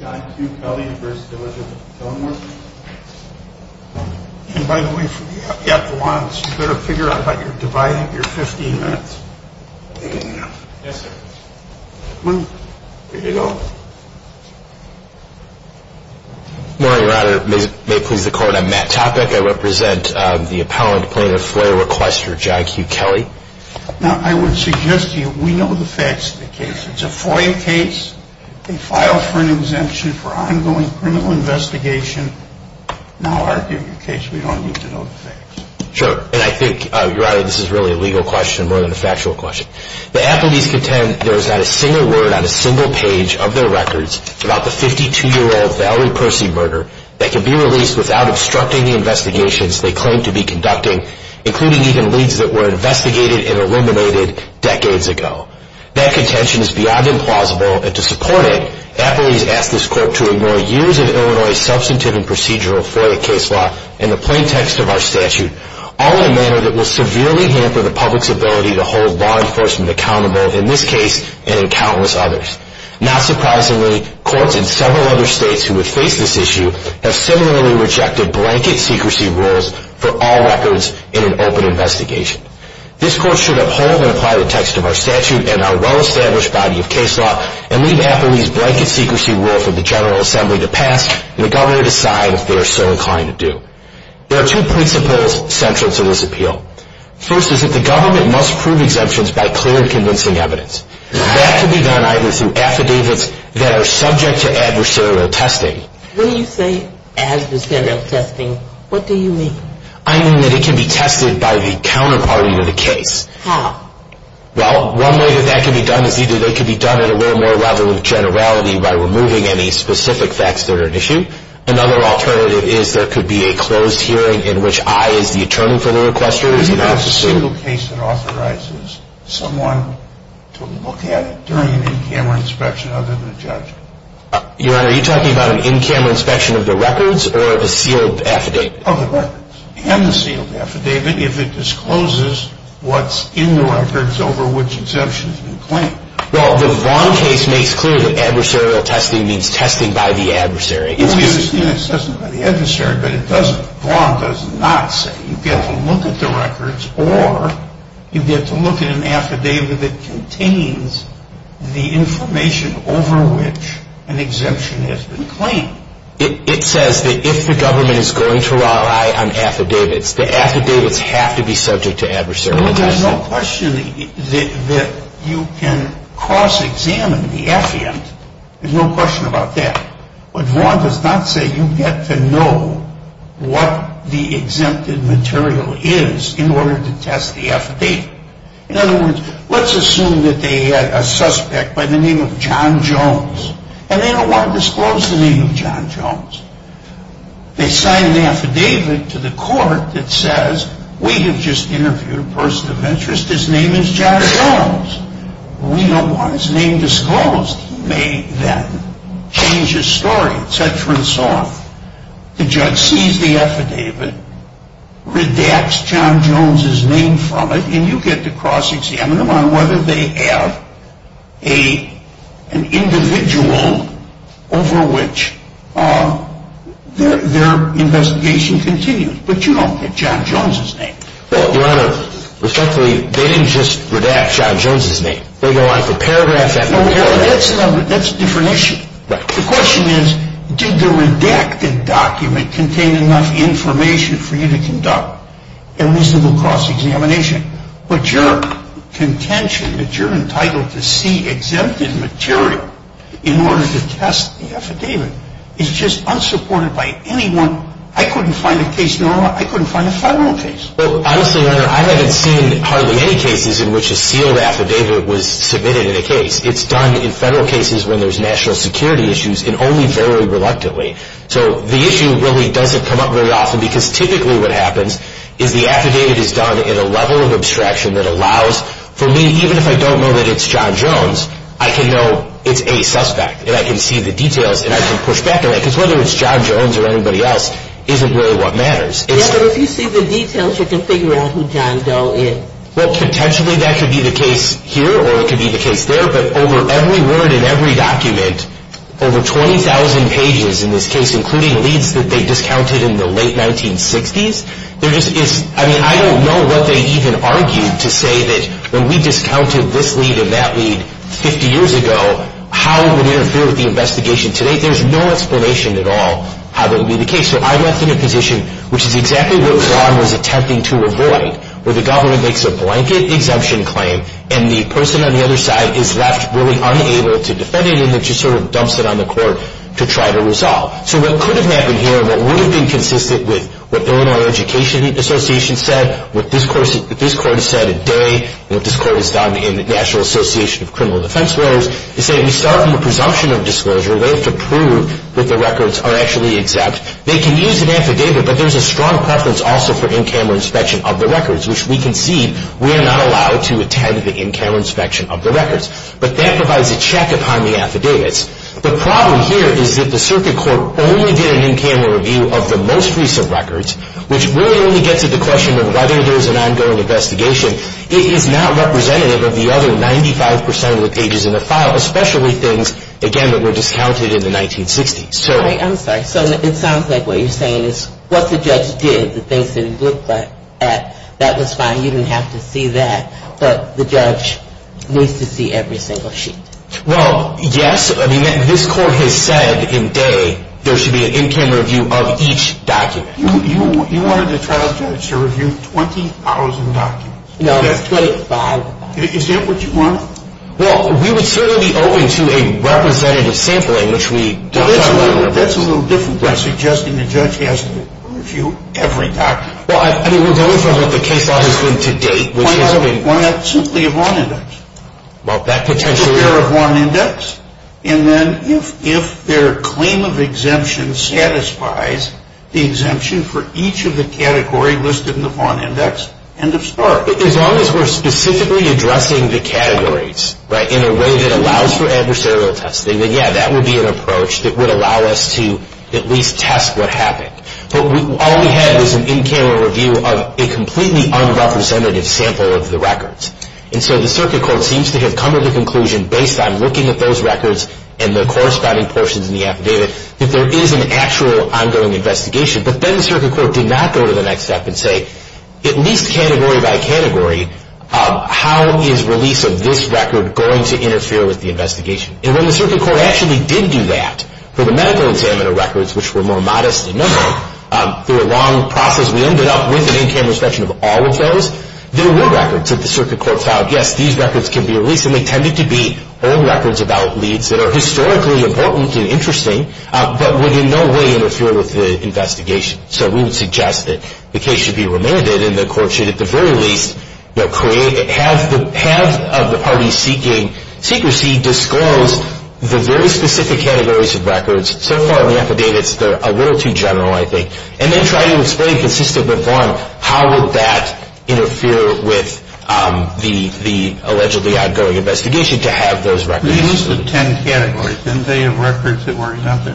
John Q. Kelly v. Village of Kenilworth And by the way, you have to figure out how you're dividing your 15 minutes. Yes, sir. There you go. Good morning, Your Honor. May it please the Court, I'm Matt Topek. I represent the appellant plaintiff, FOIA requester John Q. Kelly. Now, I would suggest to you, we know the facts of the case. It's a FOIA case. They filed for an exemption for ongoing criminal investigation. Now, arguing the case, we don't need to know the facts. Sure. And I think, Your Honor, this is really a legal question more than a factual question. The appellees contend there is not a single word on a single page of their records about the 52-year-old Valerie Percy murder that can be released without obstructing the investigations they claim to be conducting, including even leads that were investigated and eliminated decades ago. That contention is beyond implausible, and to support it, appellees ask this Court to ignore years of Illinois substantive and procedural FOIA case law and the plain text of our statute, all in a manner that will severely hamper the public's ability to hold law enforcement accountable, in this case, and in countless others. Not surprisingly, courts in several other states who have faced this issue have similarly rejected blanket secrecy rules for all records in an open investigation. This Court should uphold and apply the text of our statute and our well-established body of case law and leave appellees' blanket secrecy rule for the General Assembly to pass, and the Governor decide if they are so inclined to do. There are two principles central to this appeal. First is that the Government must prove exemptions by clear and convincing evidence. That can be done either through affidavits that are subject to adversarial testing... When you say adversarial testing, what do you mean? I mean that it can be tested by the counterparty to the case. How? Well, one way that that can be done is either they can be done at a little more level of generality by removing any specific facts that are at issue. Another alternative is there could be a closed hearing in which I, as the attorney for the requester... Do you have a single case that authorizes someone to look at it during an in-camera inspection other than a judge? Your Honor, are you talking about an in-camera inspection of the records or a sealed affidavit? Of the records and the sealed affidavit if it discloses what's in the records over which exemptions have been claimed. Well, the Vaughn case makes clear that adversarial testing means testing by the adversary. Well, you're saying it's testing by the adversary, but it doesn't. Vaughn does not say you get to look at the records or you get to look at an affidavit that contains the information over which an exemption has been claimed. It says that if the government is going to rely on affidavits, the affidavits have to be subject to adversarial testing. Well, there's no question that you can cross-examine the affidavit. There's no question about that. But Vaughn does not say you get to know what the exempted material is in order to test the affidavit. In other words, let's assume that they had a suspect by the name of John Jones, and they don't want to disclose the name of John Jones. They sign an affidavit to the court that says, we have just interviewed a person of interest, his name is John Jones. We don't want his name disclosed. He may then change his story, et cetera and so on. The judge sees the affidavit, redacts John Jones' name from it, and you get to cross-examine them on whether they have an individual over which their investigation continues. But you don't get John Jones' name. Well, Your Honor, respectfully, they didn't just redact John Jones' name. They go on for paragraphs after paragraphs. That's a different issue. The question is, did the redacted document contain enough information for you to conduct a reasonable cross-examination? But your contention that you're entitled to see exempted material in order to test the affidavit is just unsupported by anyone. I couldn't find a case normal. I couldn't find a federal case. Well, honestly, Your Honor, I haven't seen hardly any cases in which a sealed affidavit was submitted in a case. It's done in federal cases when there's national security issues and only very reluctantly. So the issue really doesn't come up very often because typically what happens is the affidavit is done in a level of abstraction that allows for me, even if I don't know that it's John Jones, I can know it's a suspect and I can see the details and I can push back on it. Because whether it's John Jones or anybody else isn't really what matters. Yeah, but if you see the details, you can figure out who John Doe is. Well, potentially that could be the case here or it could be the case there. But over every word in every document, over 20,000 pages in this case, including leads that they discounted in the late 1960s, there just is – I mean, I don't know what they even argued to say that when we discounted this lead and that lead 50 years ago, how it would interfere with the investigation today. There's no explanation at all how that would be the case. So I'm left in a position which is exactly what Ron was attempting to avoid, where the government makes a blanket exemption claim and the person on the other side is left really unable to defend it and then just sort of dumps it on the court to try to resolve. So what could have happened here, what would have been consistent with what Illinois Education Association said, what this court has said today, what this court has done in the National Association of Criminal Defense Lawyers, is that we start from the presumption of disclosure. They have to prove that the records are actually exact. They can use an affidavit, but there's a strong preference also for in-camera inspection of the records, which we concede we are not allowed to attend the in-camera inspection of the records. But that provides a check upon the affidavits. The problem here is that the circuit court only did an in-camera review of the most recent records, which really only gets at the question of whether there's an ongoing investigation. It is not representative of the other 95 percent of the pages in the file, especially things, again, that were discounted in the 1960s. I'm sorry. So it sounds like what you're saying is what the judge did, the things that he looked at, that was fine. You didn't have to see that. But the judge needs to see every single sheet. Well, yes. I mean, this court has said indeed there should be an in-camera review of each document. You wanted the trial judge to review 20,000 documents. No, it's 25,000. Is that what you wanted? Well, we would certainly owe it to a representative sampling, which we did not do. That's a little different than suggesting the judge has to review every document. Well, I mean, we're going from what the case law has been to date, which has been... Why not simply a Vaughan index? Well, that potentially... A fairer Vaughan index. And then if their claim of exemption satisfies the exemption for each of the categories listed in the Vaughan index, end of story. As long as we're specifically addressing the categories in a way that allows for adversarial testing, then, yeah, that would be an approach that would allow us to at least test what happened. But all we had was an in-camera review of a completely unrepresentative sample of the records. And so the circuit court seems to have come to the conclusion, based on looking at those records and the corresponding portions in the affidavit, that there is an actual ongoing investigation. But then the circuit court did not go to the next step and say, at least category by category, how is release of this record going to interfere with the investigation? And when the circuit court actually did do that for the medical examiner records, which were more modest in number, through a long process, we ended up with an in-camera inspection of all of those. There were records that the circuit court filed. Yes, these records can be released, and they tended to be old records about leads that are historically important and interesting, but would in no way interfere with the investigation. So we would suggest that the case should be remanded, and the court should at the very least have the parties seeking secrecy disclose the very specific categories of records. So far in the affidavits, they're a little too general, I think. And then try to explain consistently how would that interfere with the allegedly ongoing investigation to have those records. These are the ten categories. Didn't they have records that were nothing?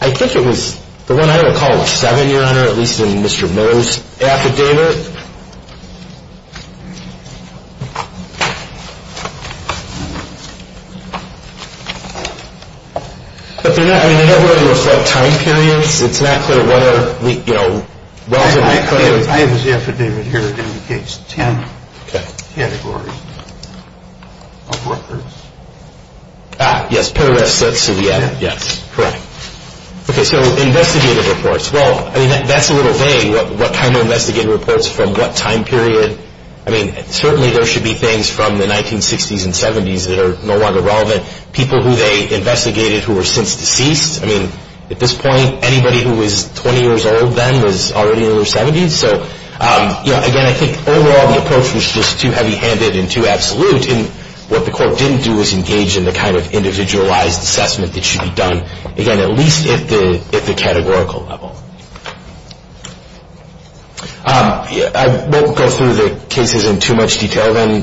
I think it was the one I recall was seven, Your Honor, at least in Mr. Moe's affidavit. But they're not going to reflect time periods. It's not clear whether, you know, I have his affidavit here that indicates ten categories of records. Ah, yes. Correct. Okay, so investigative reports. Well, I mean, that's a little vague. What kind of investigative reports from what time period? I mean, certainly there should be things from the 1960s and 70s that are no longer relevant. People who they investigated who were since deceased. I mean, at this point, anybody who was 20 years old then was already in their 70s. So, you know, again, I think overall the approach was just too heavy-handed and too absolute. And what the court didn't do was engage in the kind of individualized assessment that should be done, again, at least at the categorical level. I won't go through the cases in too much detail then,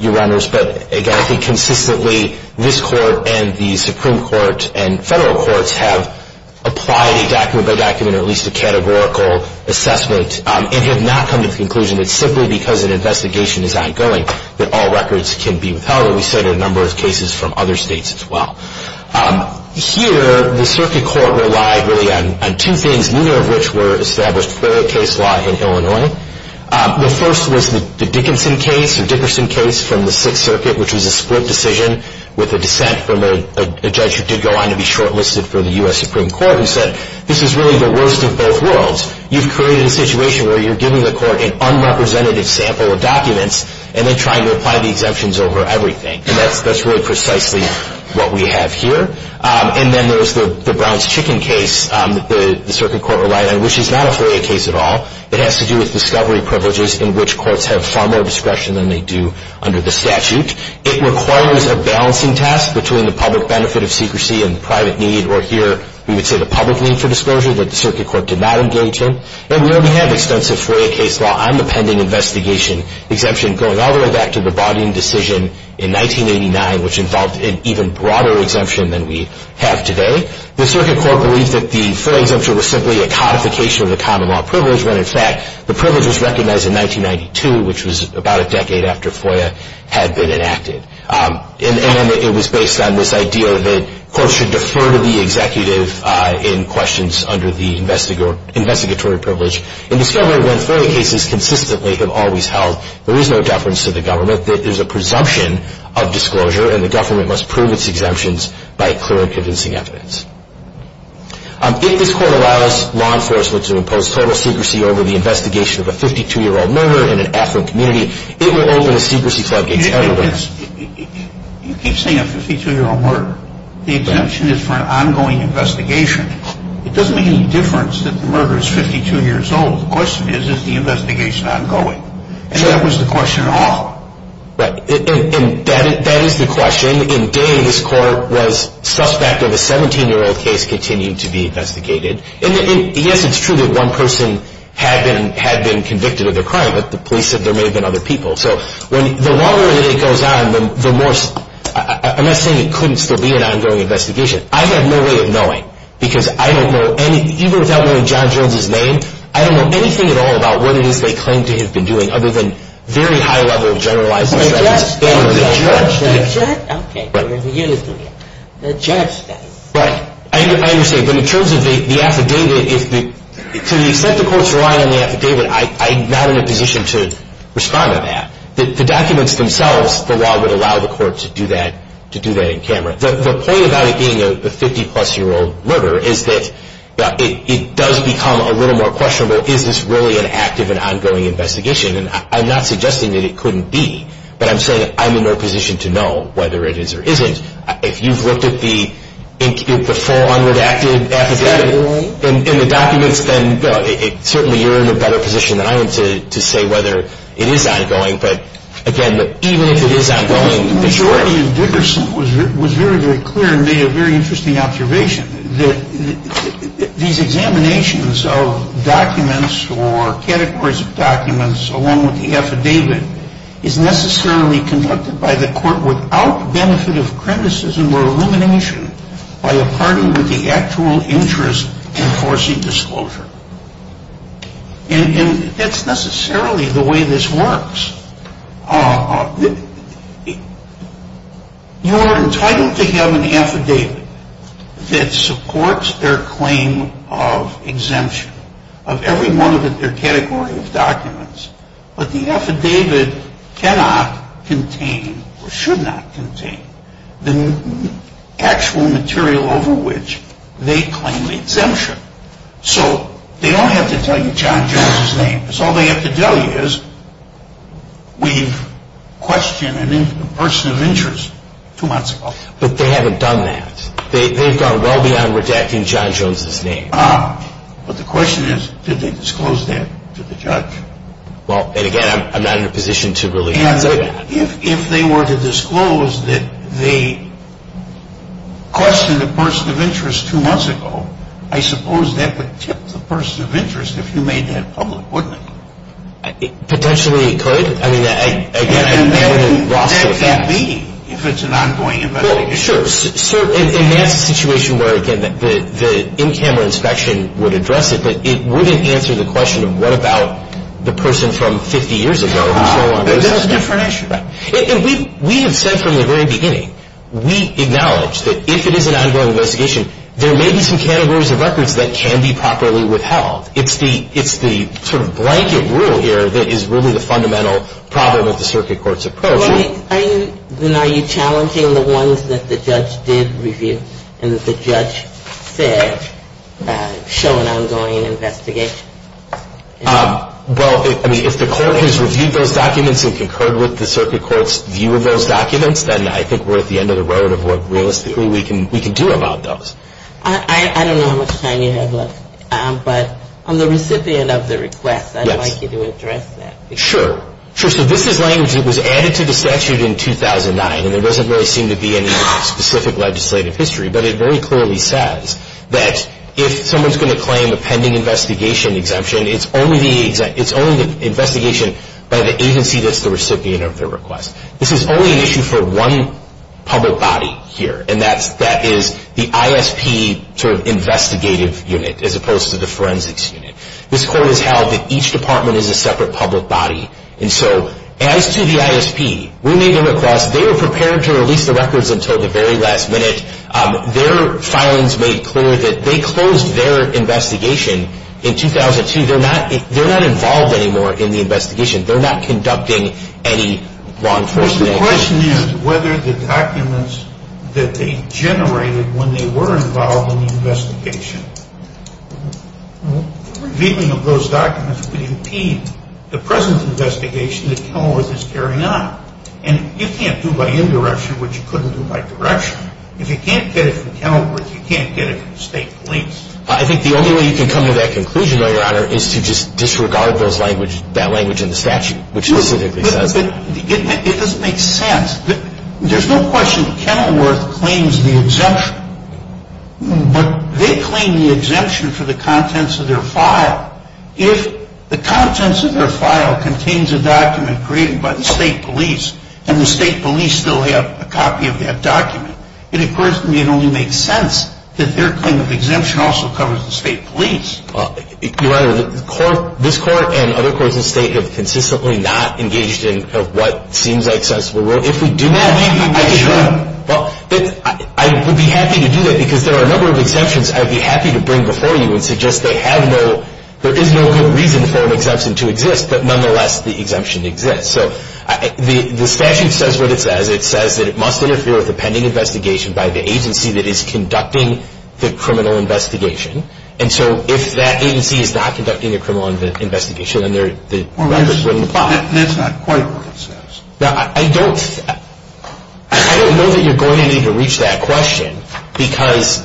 Your Honors. But, again, I think consistently this Court and the Supreme Court and federal courts have applied a document-by-document or at least a categorical assessment and have not come to the conclusion that simply because an investigation is ongoing that all records can be withheld. And we cited a number of cases from other states as well. Here, the circuit court relied really on two things, The first was the Dickinson case or Dickerson case from the Sixth Circuit, which was a split decision with a dissent from a judge who did go on to be shortlisted for the U.S. Supreme Court, who said this is really the worst of both worlds. You've created a situation where you're giving the court an unrepresentative sample of documents and then trying to apply the exemptions over everything. And that's really precisely what we have here. And then there's the Brown's Chicken case that the circuit court relied on, which is not a FOIA case at all. It has to do with discovery privileges in which courts have far more discretion than they do under the statute. It requires a balancing task between the public benefit of secrecy and the private need, or here we would say the public need for disclosure that the circuit court did not engage in. And we already have extensive FOIA case law on the pending investigation exemption going all the way back to the Bodine decision in 1989, which involved an even broader exemption than we have today. The circuit court believed that the FOIA exemption was simply a codification of the common law privilege when, in fact, the privilege was recognized in 1992, which was about a decade after FOIA had been enacted. And it was based on this idea that courts should defer to the executive in questions under the investigatory privilege in discovery when FOIA cases consistently have always held there is no deference to the government, that there is a presumption of disclosure and the government must prove its exemptions by clear and convincing evidence. If this court allows law enforcement to impose total secrecy over the investigation of a 52-year-old murder in an affluent community, it will open a secrecy floodgates everywhere. You keep saying a 52-year-old murder. The exemption is for an ongoing investigation. It doesn't make any difference that the murder is 52 years old. The question is, is the investigation ongoing? And that was the question at all. Right. And that is the question. In Dane, this court was suspect of a 17-year-old case continuing to be investigated. And, yes, it's true that one person had been convicted of their crime, but the police said there may have been other people. So the longer that it goes on, the more – I'm not saying it couldn't still be an ongoing investigation. I have no way of knowing because I don't know any – even without knowing John Jones' name, I don't know anything at all about what it is they claim to have been doing other than a very high level of generalizing. The judge said it. The judge said it? Okay. The judge said it. Right. I understand. But in terms of the affidavit, to the extent the courts rely on the affidavit, I'm not in a position to respond to that. The documents themselves, the law would allow the court to do that in camera. The point about it being a 50-plus-year-old murder is that it does become a little more questionable. Is this really an active and ongoing investigation? And I'm not suggesting that it couldn't be, but I'm saying that I'm in no position to know whether it is or isn't. If you've looked at the full unredacted affidavit and the documents, then certainly you're in a better position than I am to say whether it is ongoing. But, again, even if it is ongoing, the jury – I want to be very, very clear and make a very interesting observation. These examinations of documents or categories of documents along with the affidavit is necessarily conducted by the court without benefit of criticism or illumination by a party with the actual interest in forcing disclosure. And that's necessarily the way this works. You are entitled to have an affidavit that supports their claim of exemption of every one of their category of documents. But the affidavit cannot contain or should not contain the actual material over which they claim the exemption. So they don't have to tell you John Jones' name. That's all they have to tell you is we've questioned a person of interest two months ago. But they haven't done that. They've gone well beyond redacting John Jones' name. But the question is, did they disclose that to the judge? Well, and, again, I'm not in a position to really say that. If they were to disclose that they questioned a person of interest two months ago, I suppose that would tip the person of interest if you made that public, wouldn't it? Potentially it could. I mean, again, I haven't lost that. And that could be if it's an ongoing investigation. Well, sure. And that's a situation where, again, the in-camera inspection would address it, but it wouldn't answer the question of what about the person from 50 years ago and so on. But that's a different issue. And we have said from the very beginning, we acknowledge that if it is an ongoing investigation, there may be some categories of records that can be properly withheld. It's the sort of blanket rule here that is really the fundamental problem with the circuit court's approach. Well, then are you challenging the ones that the judge did review and that the judge said show an ongoing investigation? Well, I mean, if the court has reviewed those documents and concurred with the circuit court's view of those documents, then I think we're at the end of the road of what realistically we can do about those. I don't know how much time you have left, but I'm the recipient of the request. I'd like you to address that. Sure. So this is language that was added to the statute in 2009, and there doesn't really seem to be any specific legislative history. But it very clearly says that if someone's going to claim a pending investigation exemption, it's only the investigation by the agency that's the recipient of the request. This is only an issue for one public body here, and that is the ISP sort of investigative unit as opposed to the forensics unit. This court has held that each department is a separate public body. And so as to the ISP, we made the request. They were prepared to release the records until the very last minute. Their filings made clear that they closed their investigation in 2002. They're not involved anymore in the investigation. They're not conducting any wrongful investigation. The question is whether the documents that they generated when they were involved in the investigation, revealing of those documents would impede the present investigation that Kenilworth is carrying on. And you can't do by indirection what you couldn't do by direction. If you can't get it from Kenilworth, you can't get it from state police. I think the only way you can come to that conclusion, Your Honor, is to just disregard that language in the statute, which specifically says that. It doesn't make sense. There's no question Kenilworth claims the exemption, but they claim the exemption for the contents of their file. If the contents of their file contains a document created by the state police and the state police still have a copy of that document, it occurs to me it only makes sense that their claim of exemption also covers the state police. Your Honor, this Court and other courts in the state have consistently not engaged in what seems like sensible rule. If we do that, I would be happy to do that, because there are a number of exemptions I would be happy to bring before you and suggest there is no good reason for an exemption to exist, but nonetheless the exemption exists. So the statute says what it says. It says that it must interfere with the pending investigation by the agency that is conducting the criminal investigation. And so if that agency is not conducting the criminal investigation, then the records wouldn't apply. That's not quite what it says. Now, I don't know that you're going to need to reach that question, because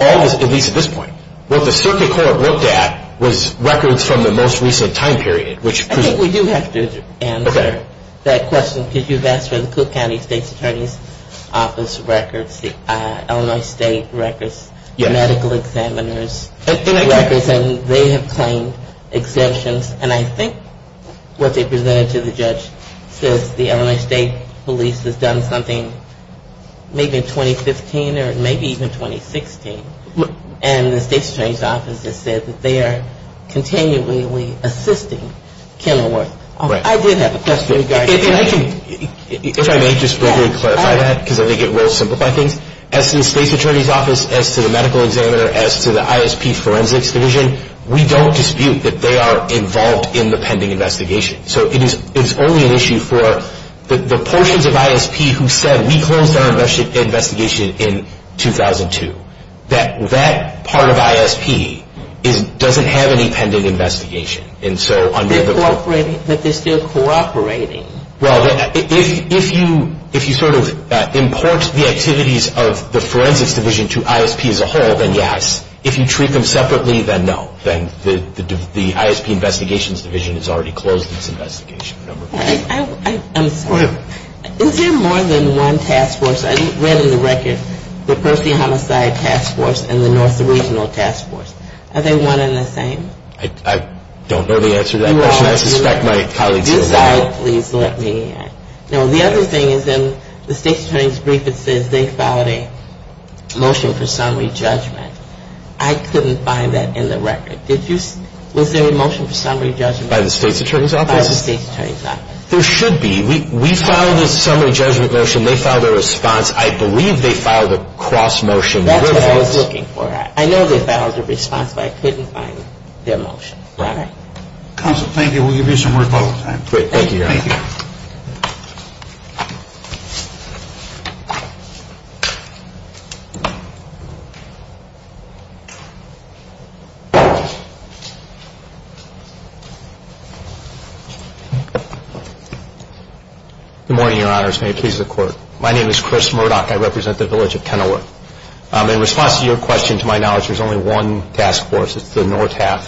all this, at least at this point, what the circuit court looked at was records from the most recent time period. I think we do have to answer that question, because you've asked for the Cook County State's Attorney's Office records, Illinois State records, medical examiners' records, and they have claimed exemptions. And I think what they presented to the judge says the Illinois State police has done something maybe in 2015 or maybe even 2016, and the State's Attorney's Office has said that they are continually assisting Kenilworth. I did have a question regarding that. If I may just briefly clarify that, because I think it will simplify things. As to the State's Attorney's Office, as to the medical examiner, as to the ISP forensics division, we don't dispute that they are involved in the pending investigation. So it is only an issue for the portions of ISP who said, we closed our investigation in 2002, that that part of ISP doesn't have any pending investigation. They're cooperating, but they're still cooperating. Well, if you sort of import the activities of the forensics division to ISP as a whole, then yes. If you treat them separately, then no. Then the ISP investigations division has already closed its investigation. I'm sorry. Is there more than one task force? I read in the record the Percy Homicide Task Force and the North Regional Task Force. Are they one and the same? I don't know the answer to that question. I suspect my colleagues know that. I'm sorry. Please let me know. The other thing is in the State's Attorney's Brief, it says they filed a motion for summary judgment. I couldn't find that in the record. Was there a motion for summary judgment? By the State's Attorney's Office? By the State's Attorney's Office. There should be. We filed a summary judgment motion. They filed a response. I believe they filed a cross motion. That's what I was looking for. I know they filed a response, but I couldn't find their motion. Counsel, thank you. We'll give you some more time. Great. Thank you, Your Honor. Thank you. Good morning, Your Honors. May it please the Court. My name is Chris Murdock. I represent the village of Kenilworth. In response to your question, to my knowledge, there's only one task force. It's the NORTAF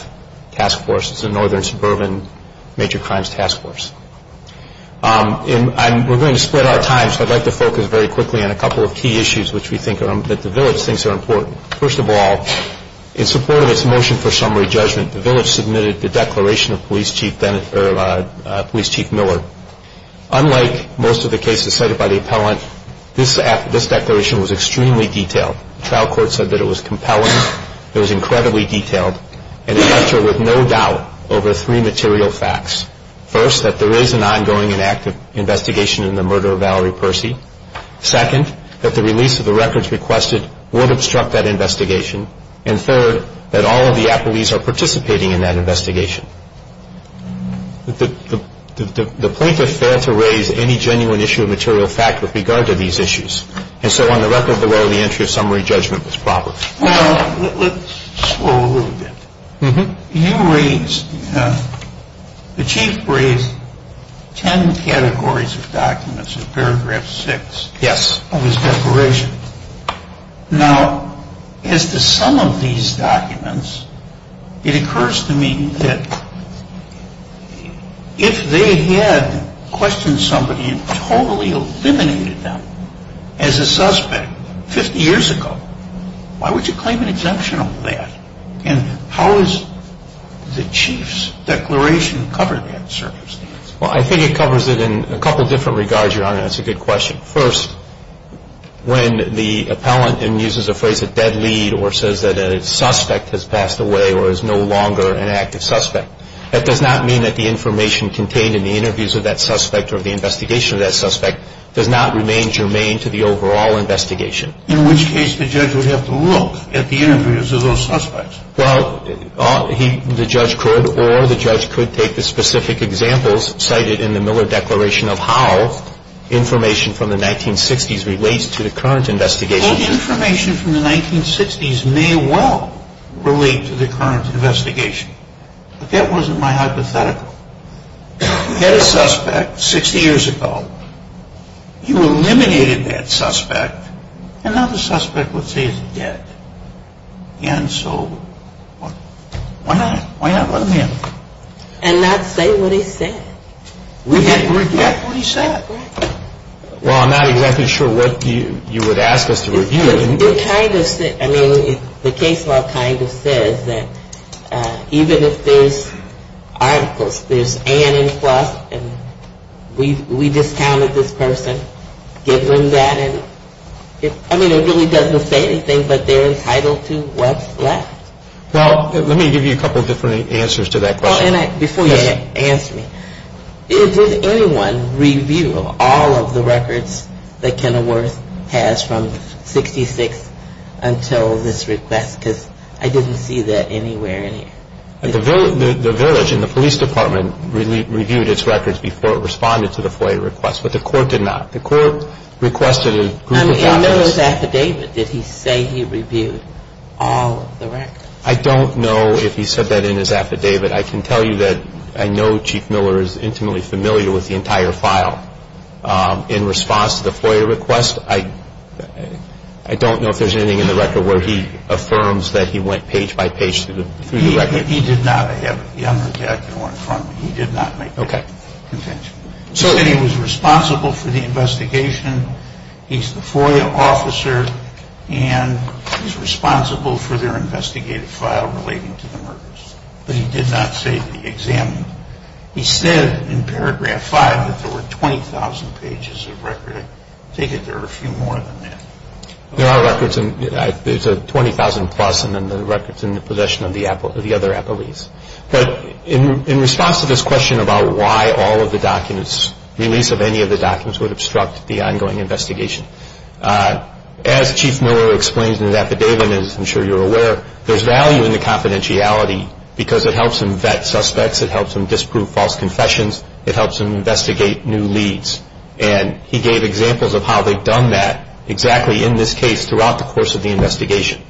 task force. It's the Northern Suburban Major Crimes Task Force. We're going to split our time, so I'd like to focus very quickly on a couple of key issues that the village thinks are important. First of all, in support of its motion for summary judgment, the village submitted the declaration of Police Chief Miller. Unlike most of the cases cited by the appellant, this declaration was extremely detailed. The trial court said that it was compelling. It was incredibly detailed. And it left her with no doubt over three material facts. First, that there is an ongoing and active investigation in the murder of Valerie Percy. Second, that the release of the records requested would obstruct that investigation. And third, that all of the appellees are participating in that investigation. The plaintiff failed to raise any genuine issue of material fact with regard to these issues. And so on the record below, the entry of summary judgment was proper. Well, let's slow a little bit. You raised, the chief raised ten categories of documents in paragraph six. Yes. Of his declaration. Now, as to some of these documents, it occurs to me that if they had questioned somebody and totally eliminated them as a suspect 50 years ago, why would you claim an exemption on that? And how does the chief's declaration cover that circumstance? Well, I think it covers it in a couple different regards, Your Honor. That's a good question. First, when the appellant uses a phrase, a dead lead, or says that a suspect has passed away or is no longer an active suspect, that does not mean that the information contained in the interviews of that suspect or the investigation of that suspect does not remain germane to the overall investigation. In which case the judge would have to look at the interviews of those suspects. Well, the judge could or the judge could take the specific examples cited in the Miller declaration of how information from the 1960s relates to the current investigation. Well, information from the 1960s may well relate to the current investigation. But that wasn't my hypothetical. You had a suspect 60 years ago. You eliminated that suspect. Another suspect would say he's dead. And so why not? Why not let him in? And not say what he said. We can't reject what he said. Well, I'm not exactly sure what you would ask us to review. I mean, the case law kind of says that even if there's articles, there's and and plus, and we discounted this person, give them that. I mean, it really doesn't say anything, but they're entitled to what's left. Well, let me give you a couple different answers to that question. Before you answer me, did anyone review all of the records that Kenilworth has from 66 until this request? Because I didn't see that anywhere in here. The village and the police department reviewed its records before it responded to the FOIA request, but the court did not. The court requested a group of officers. I mean, in Miller's affidavit, did he say he reviewed all of the records? I don't know if he said that in his affidavit. I can tell you that I know Chief Miller is intimately familiar with the entire file. In response to the FOIA request, I don't know if there's anything in the record where he affirms that he went page by page through the record. He did not have a young attacker in front of him. He did not make that contention. He said he was responsible for the investigation. He's the FOIA officer, and he's responsible for their investigative file relating to the murders. But he did not say that he examined them. He said in paragraph 5 that there were 20,000 pages of record. I take it there are a few more than that. There are records. There's a 20,000-plus, and then there are records in the possession of the other appellees. But in response to this question about why all of the documents, release of any of the documents would obstruct the ongoing investigation, as Chief Miller explains in his affidavit, and I'm sure you're aware, there's value in the confidentiality because it helps him vet suspects. It helps him disprove false confessions. It helps him investigate new leads. And he gave examples of how they've done that, exactly in this case, throughout the course of the investigation.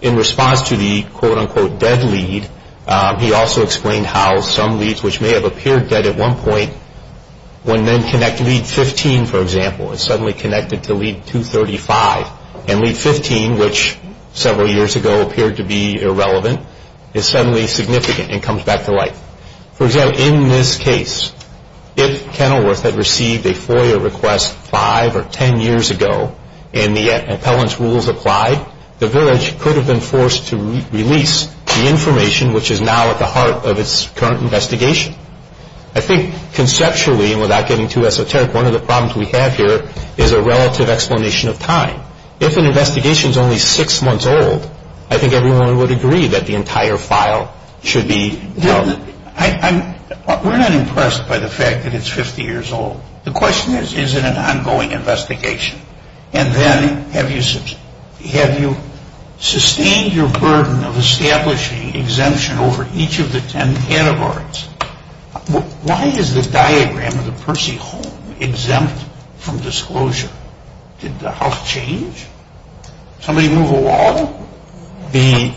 In response to the quote-unquote dead lead, he also explained how some leads, which may have appeared dead at one point, when then connected to lead 15, for example, is suddenly connected to lead 235. And lead 15, which several years ago appeared to be irrelevant, is suddenly significant and comes back to life. For example, in this case, if Kenilworth had received a FOIA request five or ten years ago and the appellant's rules applied, the village could have been forced to release the information which is now at the heart of its current investigation. I think conceptually, and without getting too esoteric, one of the problems we have here is a relative explanation of time. If an investigation is only six months old, I think everyone would agree that the entire file should be dealt with. We're not impressed by the fact that it's 50 years old. The question is, is it an ongoing investigation? And then, have you sustained your burden of establishing exemption over each of the ten categories? Why is the diagram of the Percy home exempt from disclosure? Did the house change? Somebody move a wall? I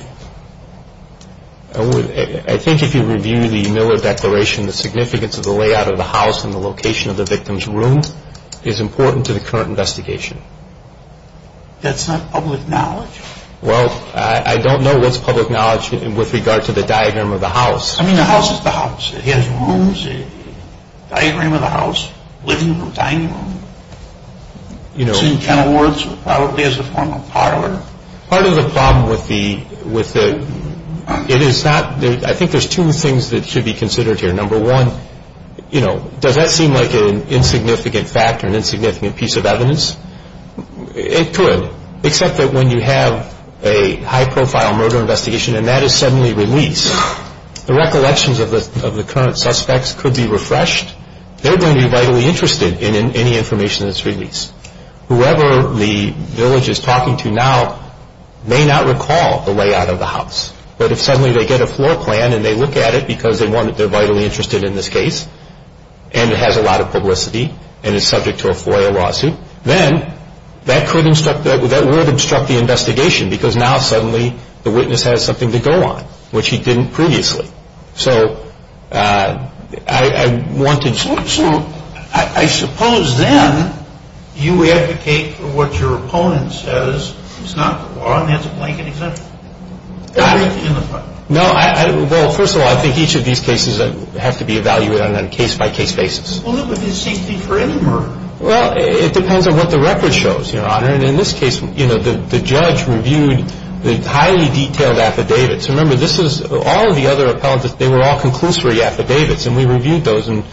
think if you review the Miller Declaration, the significance of the layout of the house and the location of the victim's room is important to the current investigation. That's not public knowledge? Well, I don't know what's public knowledge with regard to the diagram of the house. I mean, the house is the house. It has rooms, a diagram of the house, living room, dining room. It's in kennel wards, probably as a form of parlor. Part of the problem with the – it is not – I think there's two things that should be considered here. Number one, you know, does that seem like an insignificant fact or an insignificant piece of evidence? It could, except that when you have a high-profile murder investigation and that is suddenly released, the recollections of the current suspects could be refreshed. They're going to be vitally interested in any information that's released. Whoever the village is talking to now may not recall the layout of the house, but if suddenly they get a floor plan and they look at it because they want – they're vitally interested in this case and it has a lot of publicity and is subject to a FOIA lawsuit, then that could – that would obstruct the investigation because now suddenly the witness has something to go on, which he didn't previously. So I wanted – So I suppose then you advocate for what your opponent says is not the law and that's a blanket exemption? No, I – well, first of all, I think each of these cases have to be evaluated on a case-by-case basis. Well, it would be the same thing for any murder. Well, it depends on what the record shows, Your Honor. And in this case, you know, the judge reviewed the highly detailed affidavits. Remember, this is – all of the other appellate, they were all conclusory affidavits and we reviewed those and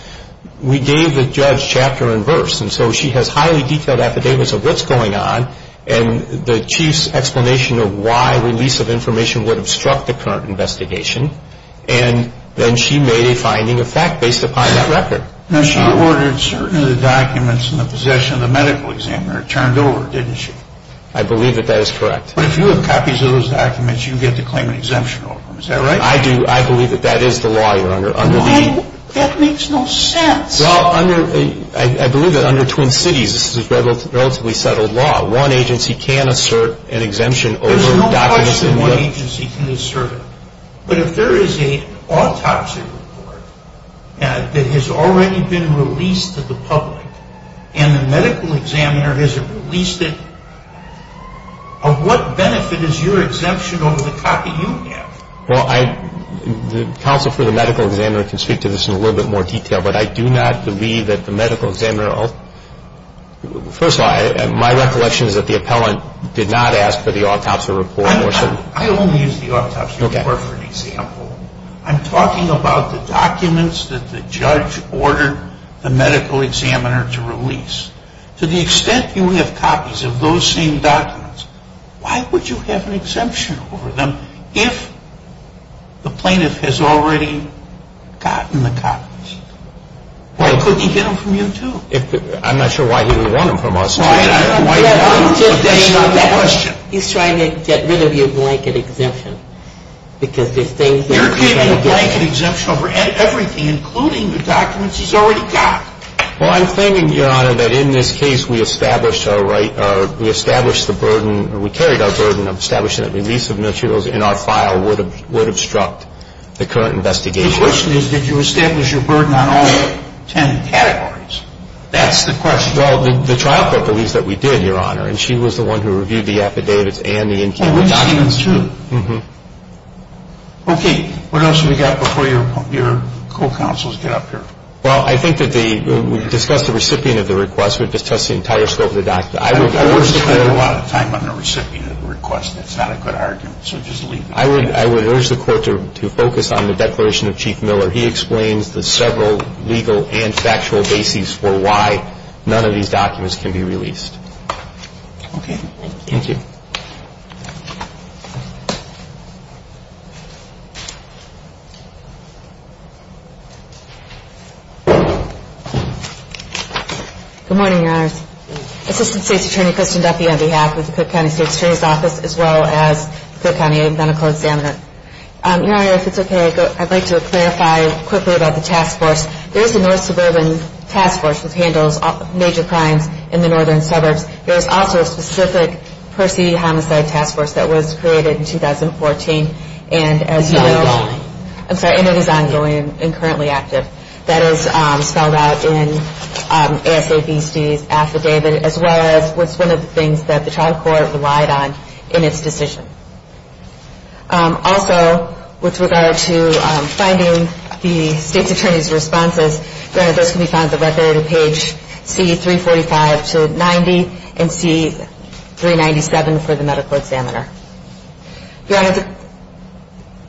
we gave the judge chapter and verse. And so she has highly detailed affidavits of what's going on and the chief's explanation of why release of information would obstruct the current investigation and then she made a finding of fact based upon that record. Now, she ordered certain of the documents in the possession of the medical examiner turned over, didn't she? I believe that that is correct. But if you have copies of those documents, you get to claim an exemption over them. Is that right? I do. I believe that that is the law, Your Honor. That makes no sense. Well, under – I believe that under Twin Cities, this is a relatively settled law. One agency can assert an exemption over documents in the – There's no question one agency can assert it. But if there is an autopsy report that has already been released to the public and the medical examiner hasn't released it, of what benefit is your exemption over the copy you have? Well, the counsel for the medical examiner can speak to this in a little bit more detail, but I do not believe that the medical examiner – first of all, my recollection is that the appellant did not ask for the autopsy report. I only used the autopsy report for an example. I'm talking about the documents that the judge ordered the medical examiner to release. To the extent you have copies of those same documents, why would you have an exemption over them if the plaintiff has already gotten the copies? Why couldn't he get them from you too? I'm not sure why he would want them from us. Why would he want them? That's not the question. He's trying to get rid of your blanket exemption because there's things that you can't get rid of. You're giving a blanket exemption over everything, including the documents he's already got. Well, I'm thinking, Your Honor, that in this case we established our right – we established the burden – we carried our burden of establishing that the release of materials in our file would obstruct the current investigation. The question is, did you establish your burden on all 10 categories? That's the question. Well, the trial court believes that we did, Your Honor, and she was the one who reviewed the affidavits and the in-court documents too. Okay. What else have we got before your co-counsels get up here? Well, I think that the – we've discussed the recipient of the request. We've discussed the entire scope of the document. I would urge the court – I spend a lot of time on the recipient of the request. That's not a good argument, so just leave it at that. I would urge the court to focus on the declaration of Chief Miller. He explains the several legal and factual bases for why none of these documents can be released. Okay. Thank you. Thank you. Good morning, Your Honors. Assistant State's Attorney Kristin Duffy on behalf of the Cook County State's Attorney's Office as well as the Cook County Medical Examiner. Your Honor, if it's okay, I'd like to clarify quickly about the task force. There is a North Suburban Task Force which handles major crimes in the northern suburbs. There is also a specific Percy Homicide Task Force that was created in 2014, and as you know – It's ongoing. I'm sorry, and it is ongoing and currently active. That is spelled out in ASABC's affidavit as well as what's one of the things that the trial court relied on in its decision. Also, with regard to finding the State's Attorney's responses, Your Honor, those can be found at the right there on page C-345-90 and C-397 for the medical examiner. Your Honor,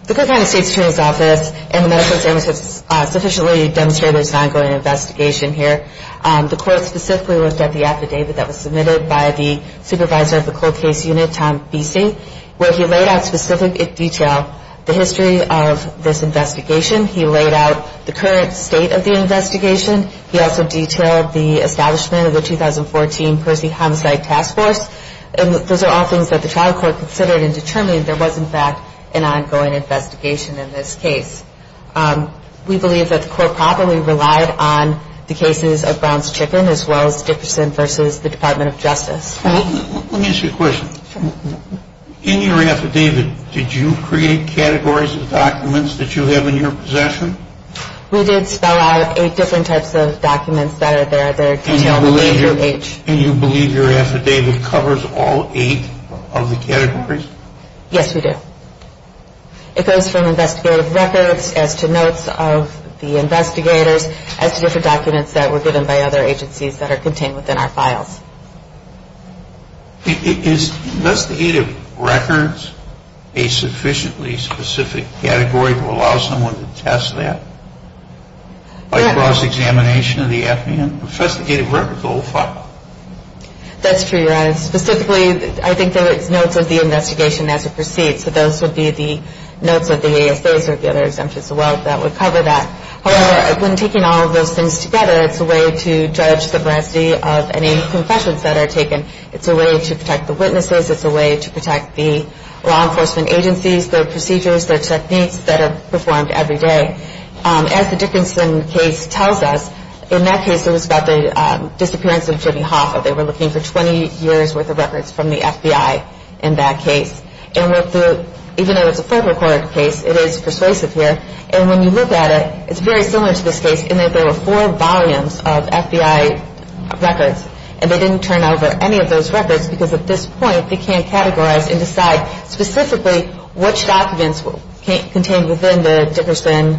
the Cook County State's Attorney's Office and the medical examiner have sufficiently demonstrated there is an ongoing investigation here. The court specifically looked at the affidavit that was submitted by the supervisor of the cold case unit, Tom Biese, where he laid out in specific detail the history of this investigation. He laid out the current state of the investigation. He also detailed the establishment of the 2014 Percy Homicide Task Force, and those are all things that the trial court considered and determined there was, in fact, an ongoing investigation in this case. We believe that the court probably relied on the cases of Brown's Chicken as well as Dickerson v. the Department of Justice. Let me ask you a question. In your affidavit, did you create categories of documents that you have in your possession? We did spell out eight different types of documents that are there. And you believe your affidavit covers all eight of the categories? Yes, we do. It goes from investigative records as to notes of the investigators as to different documents that were given by other agencies that are contained within our files. Is investigative records a sufficiently specific category to allow someone to test that by cross-examination of the affidavit? Investigative records are all filed. That's true, Your Honor. Specifically, I think that it's notes of the investigation as it proceeds. So those would be the notes of the ASOs or the other exemptions as well that would cover that. However, when taking all of those things together, it's a way to judge the veracity of any confessions that are taken. It's a way to protect the witnesses. It's a way to protect the law enforcement agencies, their procedures, their techniques that are performed every day. As the Dickerson case tells us, in that case, it was about the disappearance of Jimmy Hoffa. They were looking for 20 years' worth of records from the FBI in that case. And even though it's a federal court case, it is persuasive here. And when you look at it, it's very similar to this case in that there were four volumes of FBI records, and they didn't turn over any of those records because at this point, they can't categorize and decide specifically which documents contained within the Dickerson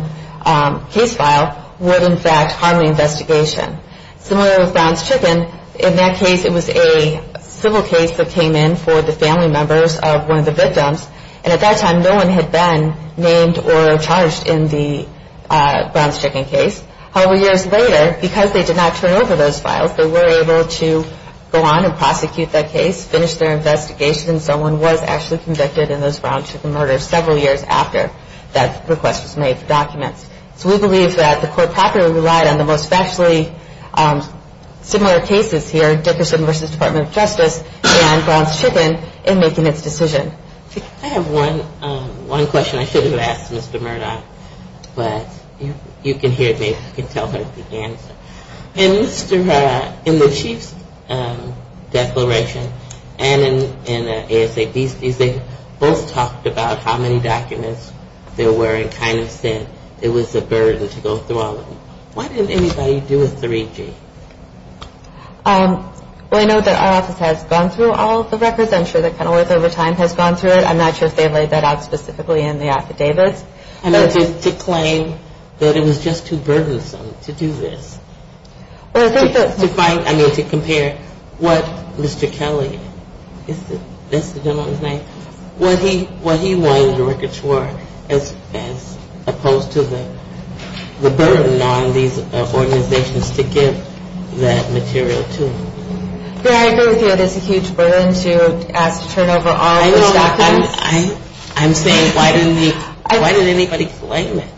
case file would, in fact, harm the investigation. Similar with Brown's Chicken, in that case, it was a civil case that came in for the family members of one of the victims. And at that time, no one had been named or charged in the Brown's Chicken case. However, years later, because they did not turn over those files, they were able to go on and prosecute that case, finish their investigation, and someone was actually convicted in those Brown's Chicken murders several years after that request was made for documents. So we believe that the court properly relied on the most factually similar cases here, Dickerson v. Department of Justice and Brown's Chicken, in making its decision. I have one question I should have asked Mr. Murdock, but you can hear me. You can tell her the answer. In the Chief's declaration and in ASAP's, they both talked about how many documents there were and kind of said it was a burden to go through all of them. Why didn't anybody do a 3G? Well, I know that our office has gone through all of the records and I'm sure that Kenilworth over time has gone through it. I'm not sure if they laid that out specifically in the affidavits. I meant to claim that it was just too burdensome to do this. I mean to compare what Mr. Kelly, that's the gentleman's name, what he wanted the records for as opposed to the burden on these organizations to give that material to. I agree with you. It is a huge burden to ask to turn over all of those documents. I'm saying why didn't anybody claim it?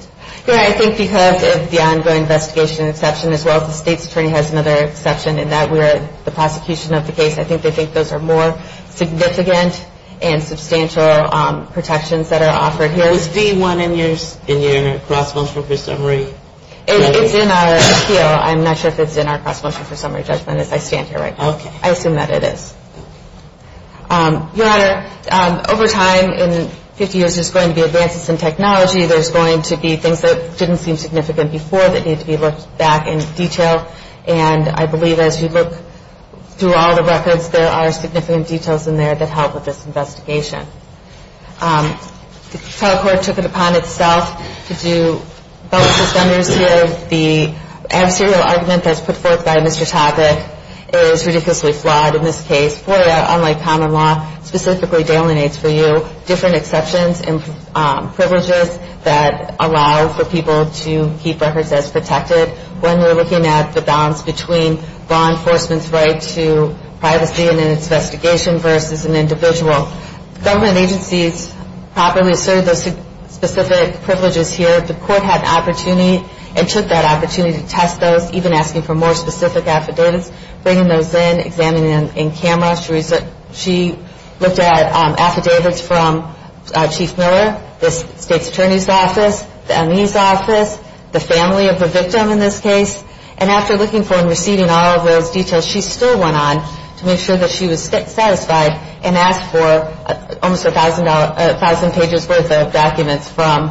I think because of the ongoing investigation exception, as well as the state's attorney has another exception, in that the prosecution of the case, I think they think those are more significant and substantial protections that are offered here. Was D1 in your cross-motion for summary? It's in our appeal. I'm not sure if it's in our cross-motion for summary judgment as I stand here right now. Okay. I assume that it is. Your Honor, over time, in 50 years, there's going to be advances in technology. There's going to be things that didn't seem significant before that need to be looked back in detail. And I believe as you look through all the records, there are significant details in there that help with this investigation. The trial court took it upon itself to do both suspenders here, if the adversarial argument that's put forth by Mr. Topic is ridiculously flawed in this case. FOIA, unlike common law, specifically delineates for you different exceptions and privileges that allow for people to keep records as protected. When you're looking at the balance between law enforcement's right to privacy and then its investigation versus an individual, government agencies properly assert those specific privileges here. The court had an opportunity and took that opportunity to test those, even asking for more specific affidavits, bringing those in, examining them in camera. She looked at affidavits from Chief Miller, the state's attorney's office, the ME's office, the family of the victim in this case. And after looking for and receiving all of those details, she still went on to make sure that she was satisfied and asked for almost 1,000 pages worth of documents from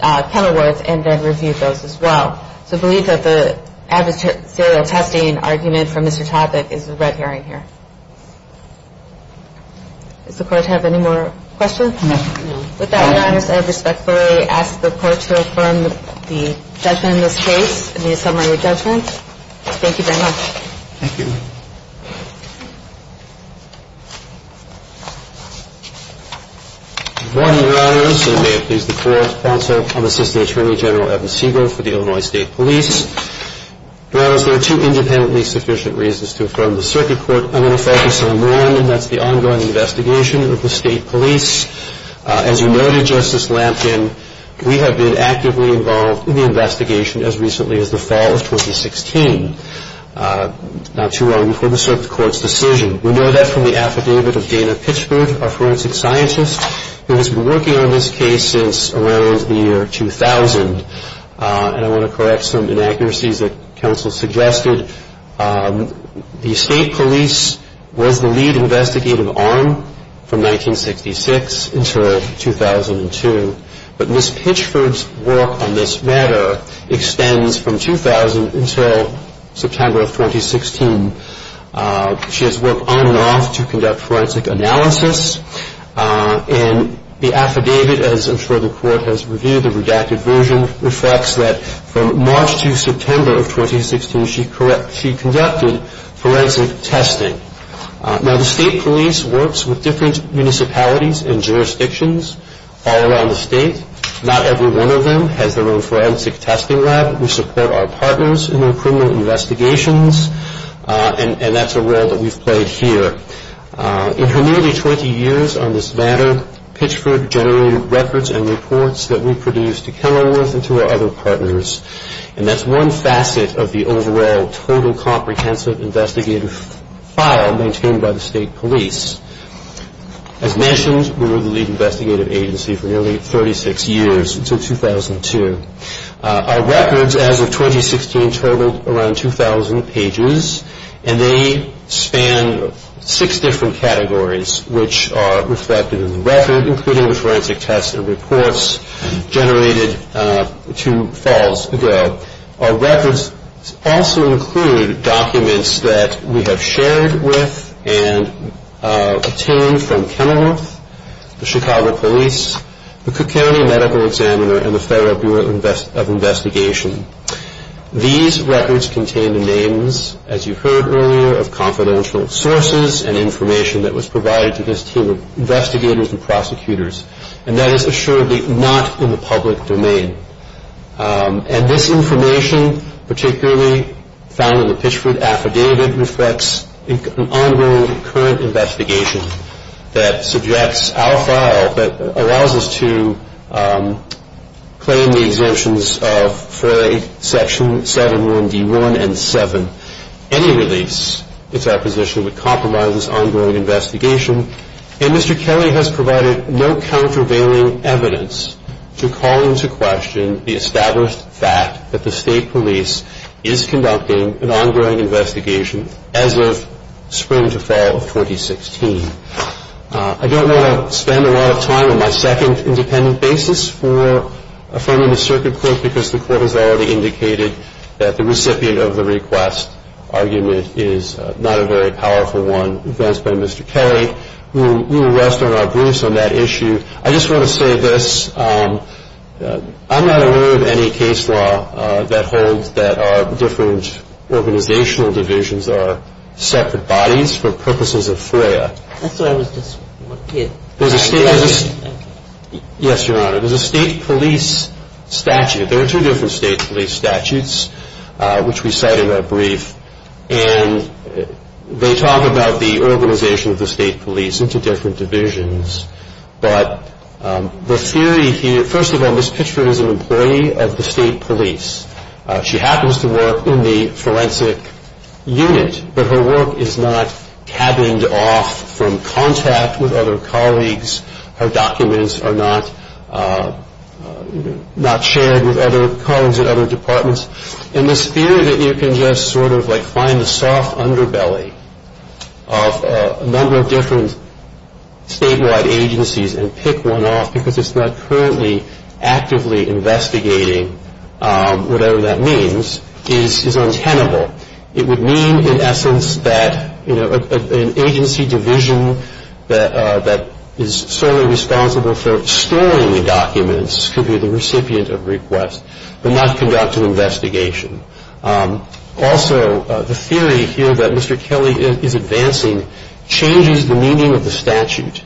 Kenilworth and then reviewed those as well. So I believe that the adversarial testing argument from Mr. Topic is the red herring here. Does the Court have any more questions? With that, Your Honors, I respectfully ask the Court to affirm the judgment in this case and the assembly judgment. Thank you very much. Thank you. Good morning, Your Honors. And may it please the Court, also I'm Assistant Attorney General Evan Segal for the Illinois State Police. Your Honors, there are two independently sufficient reasons to affirm the circuit court. I'm going to focus on one, and that's the ongoing investigation of the State Police. As you noted, Justice Lamkin, we have been actively involved in the investigation as recently as the fall of 2016. Not too long before the circuit court's decision. We know that from the affidavit of Dana Pitchford, a forensic scientist, who has been working on this case since around the year 2000. And I want to correct some inaccuracies that counsel suggested. The State Police was the lead investigative arm from 1966 until 2002. But Ms. Pitchford's work on this matter extends from 2000 until September of 2016. She has worked on and off to conduct forensic analysis. And the affidavit, as I'm sure the Court has reviewed, the redacted version, reflects that from March to September of 2016, she conducted forensic testing. Now, the State Police works with different municipalities and jurisdictions all around the state. Not every one of them has their own forensic testing lab. We support our partners in their criminal investigations, and that's a role that we've played here. In her nearly 20 years on this matter, Pitchford generated records and reports that we produced to Kenilworth and to our other partners. And that's one facet of the overall total comprehensive investigative file maintained by the State Police. As mentioned, we were the lead investigative agency for nearly 36 years until 2002. Our records as of 2016 totaled around 2,000 pages, and they span six different categories which are reflected in the record, including the forensic tests and reports generated two falls ago. Our records also include documents that we have shared with and obtained from Kenilworth, the Chicago Police, the Cook County Medical Examiner, and the Federal Bureau of Investigation. These records contain the names, as you heard earlier, of confidential sources and information that was provided to this team of investigators and prosecutors, and that is assuredly not in the public domain. And this information, particularly found in the Pitchford affidavit, reflects an ongoing current investigation that suggests our file, that allows us to claim the exemptions of 4A, Section 71, D1, and 7. Any release, it's our position, would compromise this ongoing investigation. And Mr. Kelly has provided no countervailing evidence to call into question the established fact that the State Police is conducting an ongoing investigation as of spring to fall of 2016. I don't want to spend a lot of time on my second independent basis for affirming the circuit court because the court has already indicated that the recipient of the request argument is not a very powerful one advanced by Mr. Kelly. We will rest on our briefs on that issue. I just want to say this. I'm not aware of any case law that holds that our different organizational divisions are separate bodies for purposes of FOIA. I thought I was just one kid. Yes, Your Honor. There's a State Police statute. There are two different State Police statutes, which we cite in our brief. And they talk about the organization of the State Police into different divisions. But the theory here, first of all, Ms. Pitchford is an employee of the State Police. She happens to work in the forensic unit, but her work is not cabined off from contact with other colleagues. Her documents are not shared with other colleagues in other departments. And this fear that you can just sort of like find the soft underbelly of a number of different statewide agencies and pick one off because it's not currently actively investigating, whatever that means, is untenable. It would mean, in essence, that an agency division that is solely responsible for storing the documents could be the recipient of requests but not conduct an investigation. Also, the theory here that Mr. Kelly is advancing changes the meaning of the statute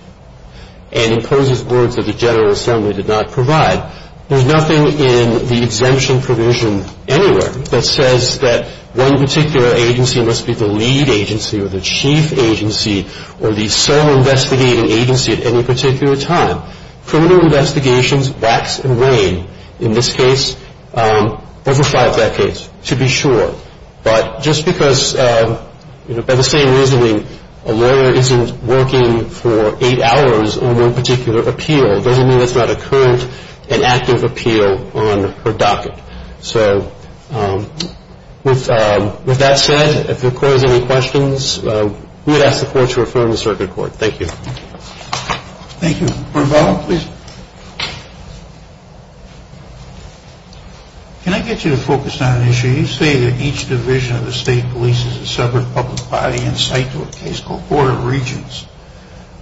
and imposes words that the General Assembly did not provide. There's nothing in the exemption provision anywhere that says that one particular agency must be the lead agency or the chief agency or the sole investigating agency at any particular time. Criminal investigations wax and wane in this case over five decades, to be sure. But just because, you know, by the same reasoning, a lawyer isn't working for eight hours on one particular appeal doesn't mean it's not a current and active appeal on her docket. So with that said, if there are any questions, we would ask the court to refer them to the circuit court. Thank you. Thank you. Bernal, please. Can I get you to focus on an issue? You say that each division of the state police is a separate public body in site to a case called Board of Regents,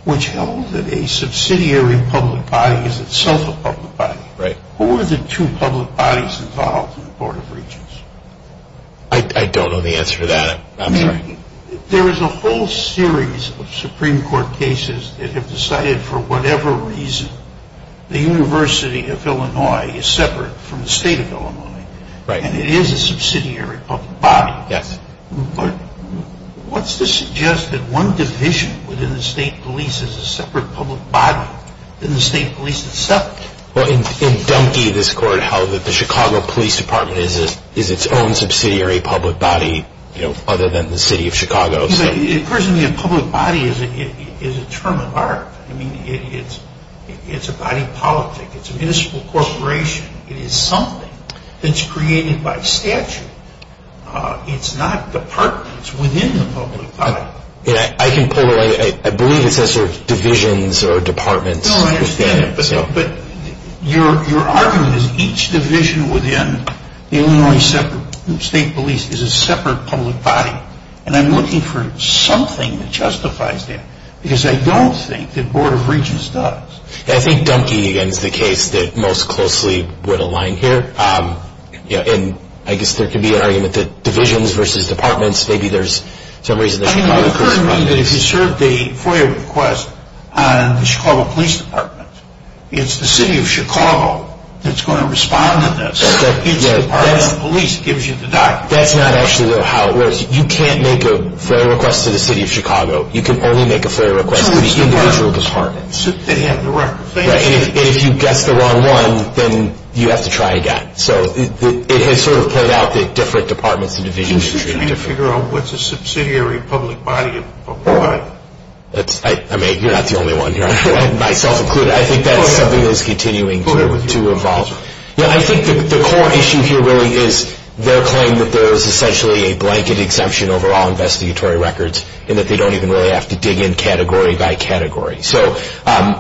which held that a subsidiary public body is itself a public body. Right. Who are the two public bodies involved in the Board of Regents? I don't know the answer to that. I'm sorry. There is a whole series of Supreme Court cases that have decided for whatever reason the University of Illinois is separate from the state of Illinois. Right. And it is a subsidiary public body. Yes. But what's to suggest that one division within the state police is a separate public body and the state police is separate? Well, in Dunkey, this court held that the Chicago Police Department is its own subsidiary public body, you know, other than the city of Chicago. It occurs to me a public body is a term of art. I mean, it's a body politic. It's a municipal corporation. It is something that's created by statute. It's not departments within the public body. I can pull away. I believe it says divisions or departments. No, I understand that. But your argument is each division within the Illinois State Police is a separate public body. And I'm looking for something that justifies that because I don't think the Board of Regents does. I think Dunkey, again, is the case that most closely would align here. And I guess there could be an argument that divisions versus departments, maybe there's some reason that Chicago Police Department is. I mean, it occurs to me that if you serve the FOIA request on the Chicago Police Department, it's the city of Chicago that's going to respond to this. It's the Department of Police that gives you the documents. That's not actually how it works. You can't make a FOIA request to the city of Chicago. You can only make a FOIA request to the individual departments. They have the records. And if you guess the wrong one, then you have to try again. So it has sort of played out that different departments and divisions are treated differently. Are you trying to figure out what's a subsidiary public body and for what? I mean, you're not the only one here. Myself included. I think that's something that's continuing to evolve. I think the core issue here really is their claim that there is essentially a blanket exemption over all investigatory records and that they don't even really have to dig in category by category. So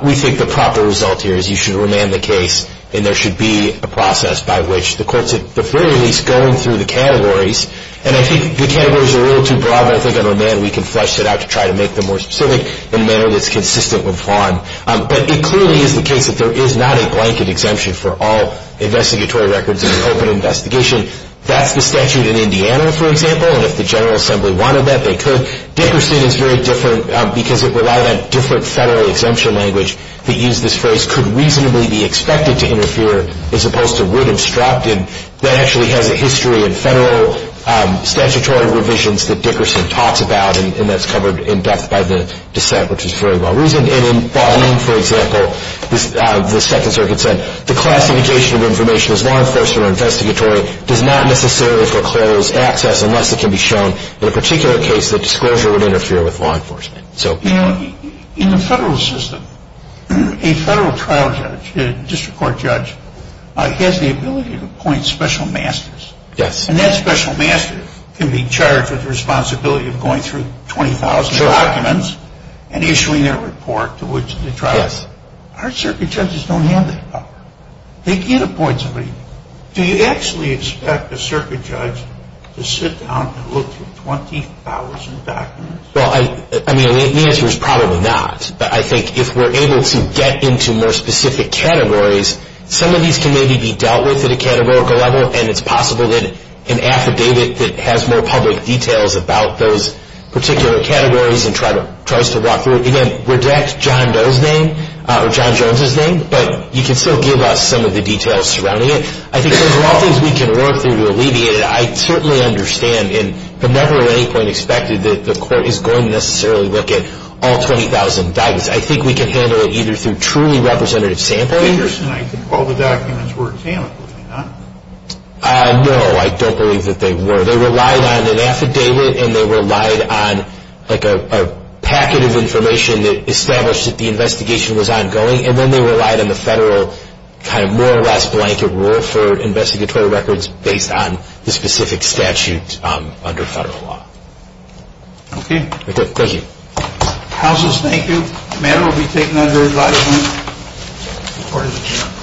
we think the proper result here is you should remand the case, and there should be a process by which the court's at the very least going through the categories. And I think the categories are a little too broad, but I think on remand we can flesh it out to try to make them more specific in a manner that's consistent with FON. But it clearly is the case that there is not a blanket exemption for all investigatory records in an open investigation. That's the statute in Indiana, for example, and if the General Assembly wanted that, they could. Dickerson is very different because it relied on different federal exemption language. They used this phrase, could reasonably be expected to interfere, as opposed to would obstruct. And that actually has a history in federal statutory revisions that Dickerson talks about, and that's covered in depth by the dissent, which is very well reasoned. And in Bonin, for example, the Second Circuit said, the classification of information as law enforcement or investigatory does not necessarily foreclose access unless it can be shown in a particular case that disclosure would interfere with law enforcement. In the federal system, a federal trial judge, a district court judge, has the ability to appoint special masters. Yes. And that special master can be charged with the responsibility of going through 20,000 documents and issuing a report to which the trial judge. Yes. Our circuit judges don't have that power. They can't appoint somebody. Do you actually expect a circuit judge to sit down and look through 20,000 documents? Well, I mean, the answer is probably not. But I think if we're able to get into more specific categories, some of these can maybe be dealt with at a categorical level, and it's possible that an affidavit that has more public details about those particular categories and tries to walk through it. Again, reject John Doe's name or John Jones's name, but you can still give us some of the details surrounding it. I think there's a lot of things we can work through to alleviate it. I certainly understand and have never at any point expected that the court is going to necessarily look at all 20,000 documents. I think we can handle it either through truly representative sampling. Anderson, I think all the documents were examined, were they not? No, I don't believe that they were. They relied on an affidavit and they relied on like a packet of information that established that the investigation was ongoing, and then they relied on the federal kind of more or less blanket rule for investigatory records based on the specific statute under federal law. Okay. Thank you. Counsels, thank you. The matter will be taken under advisement. The court is adjourned.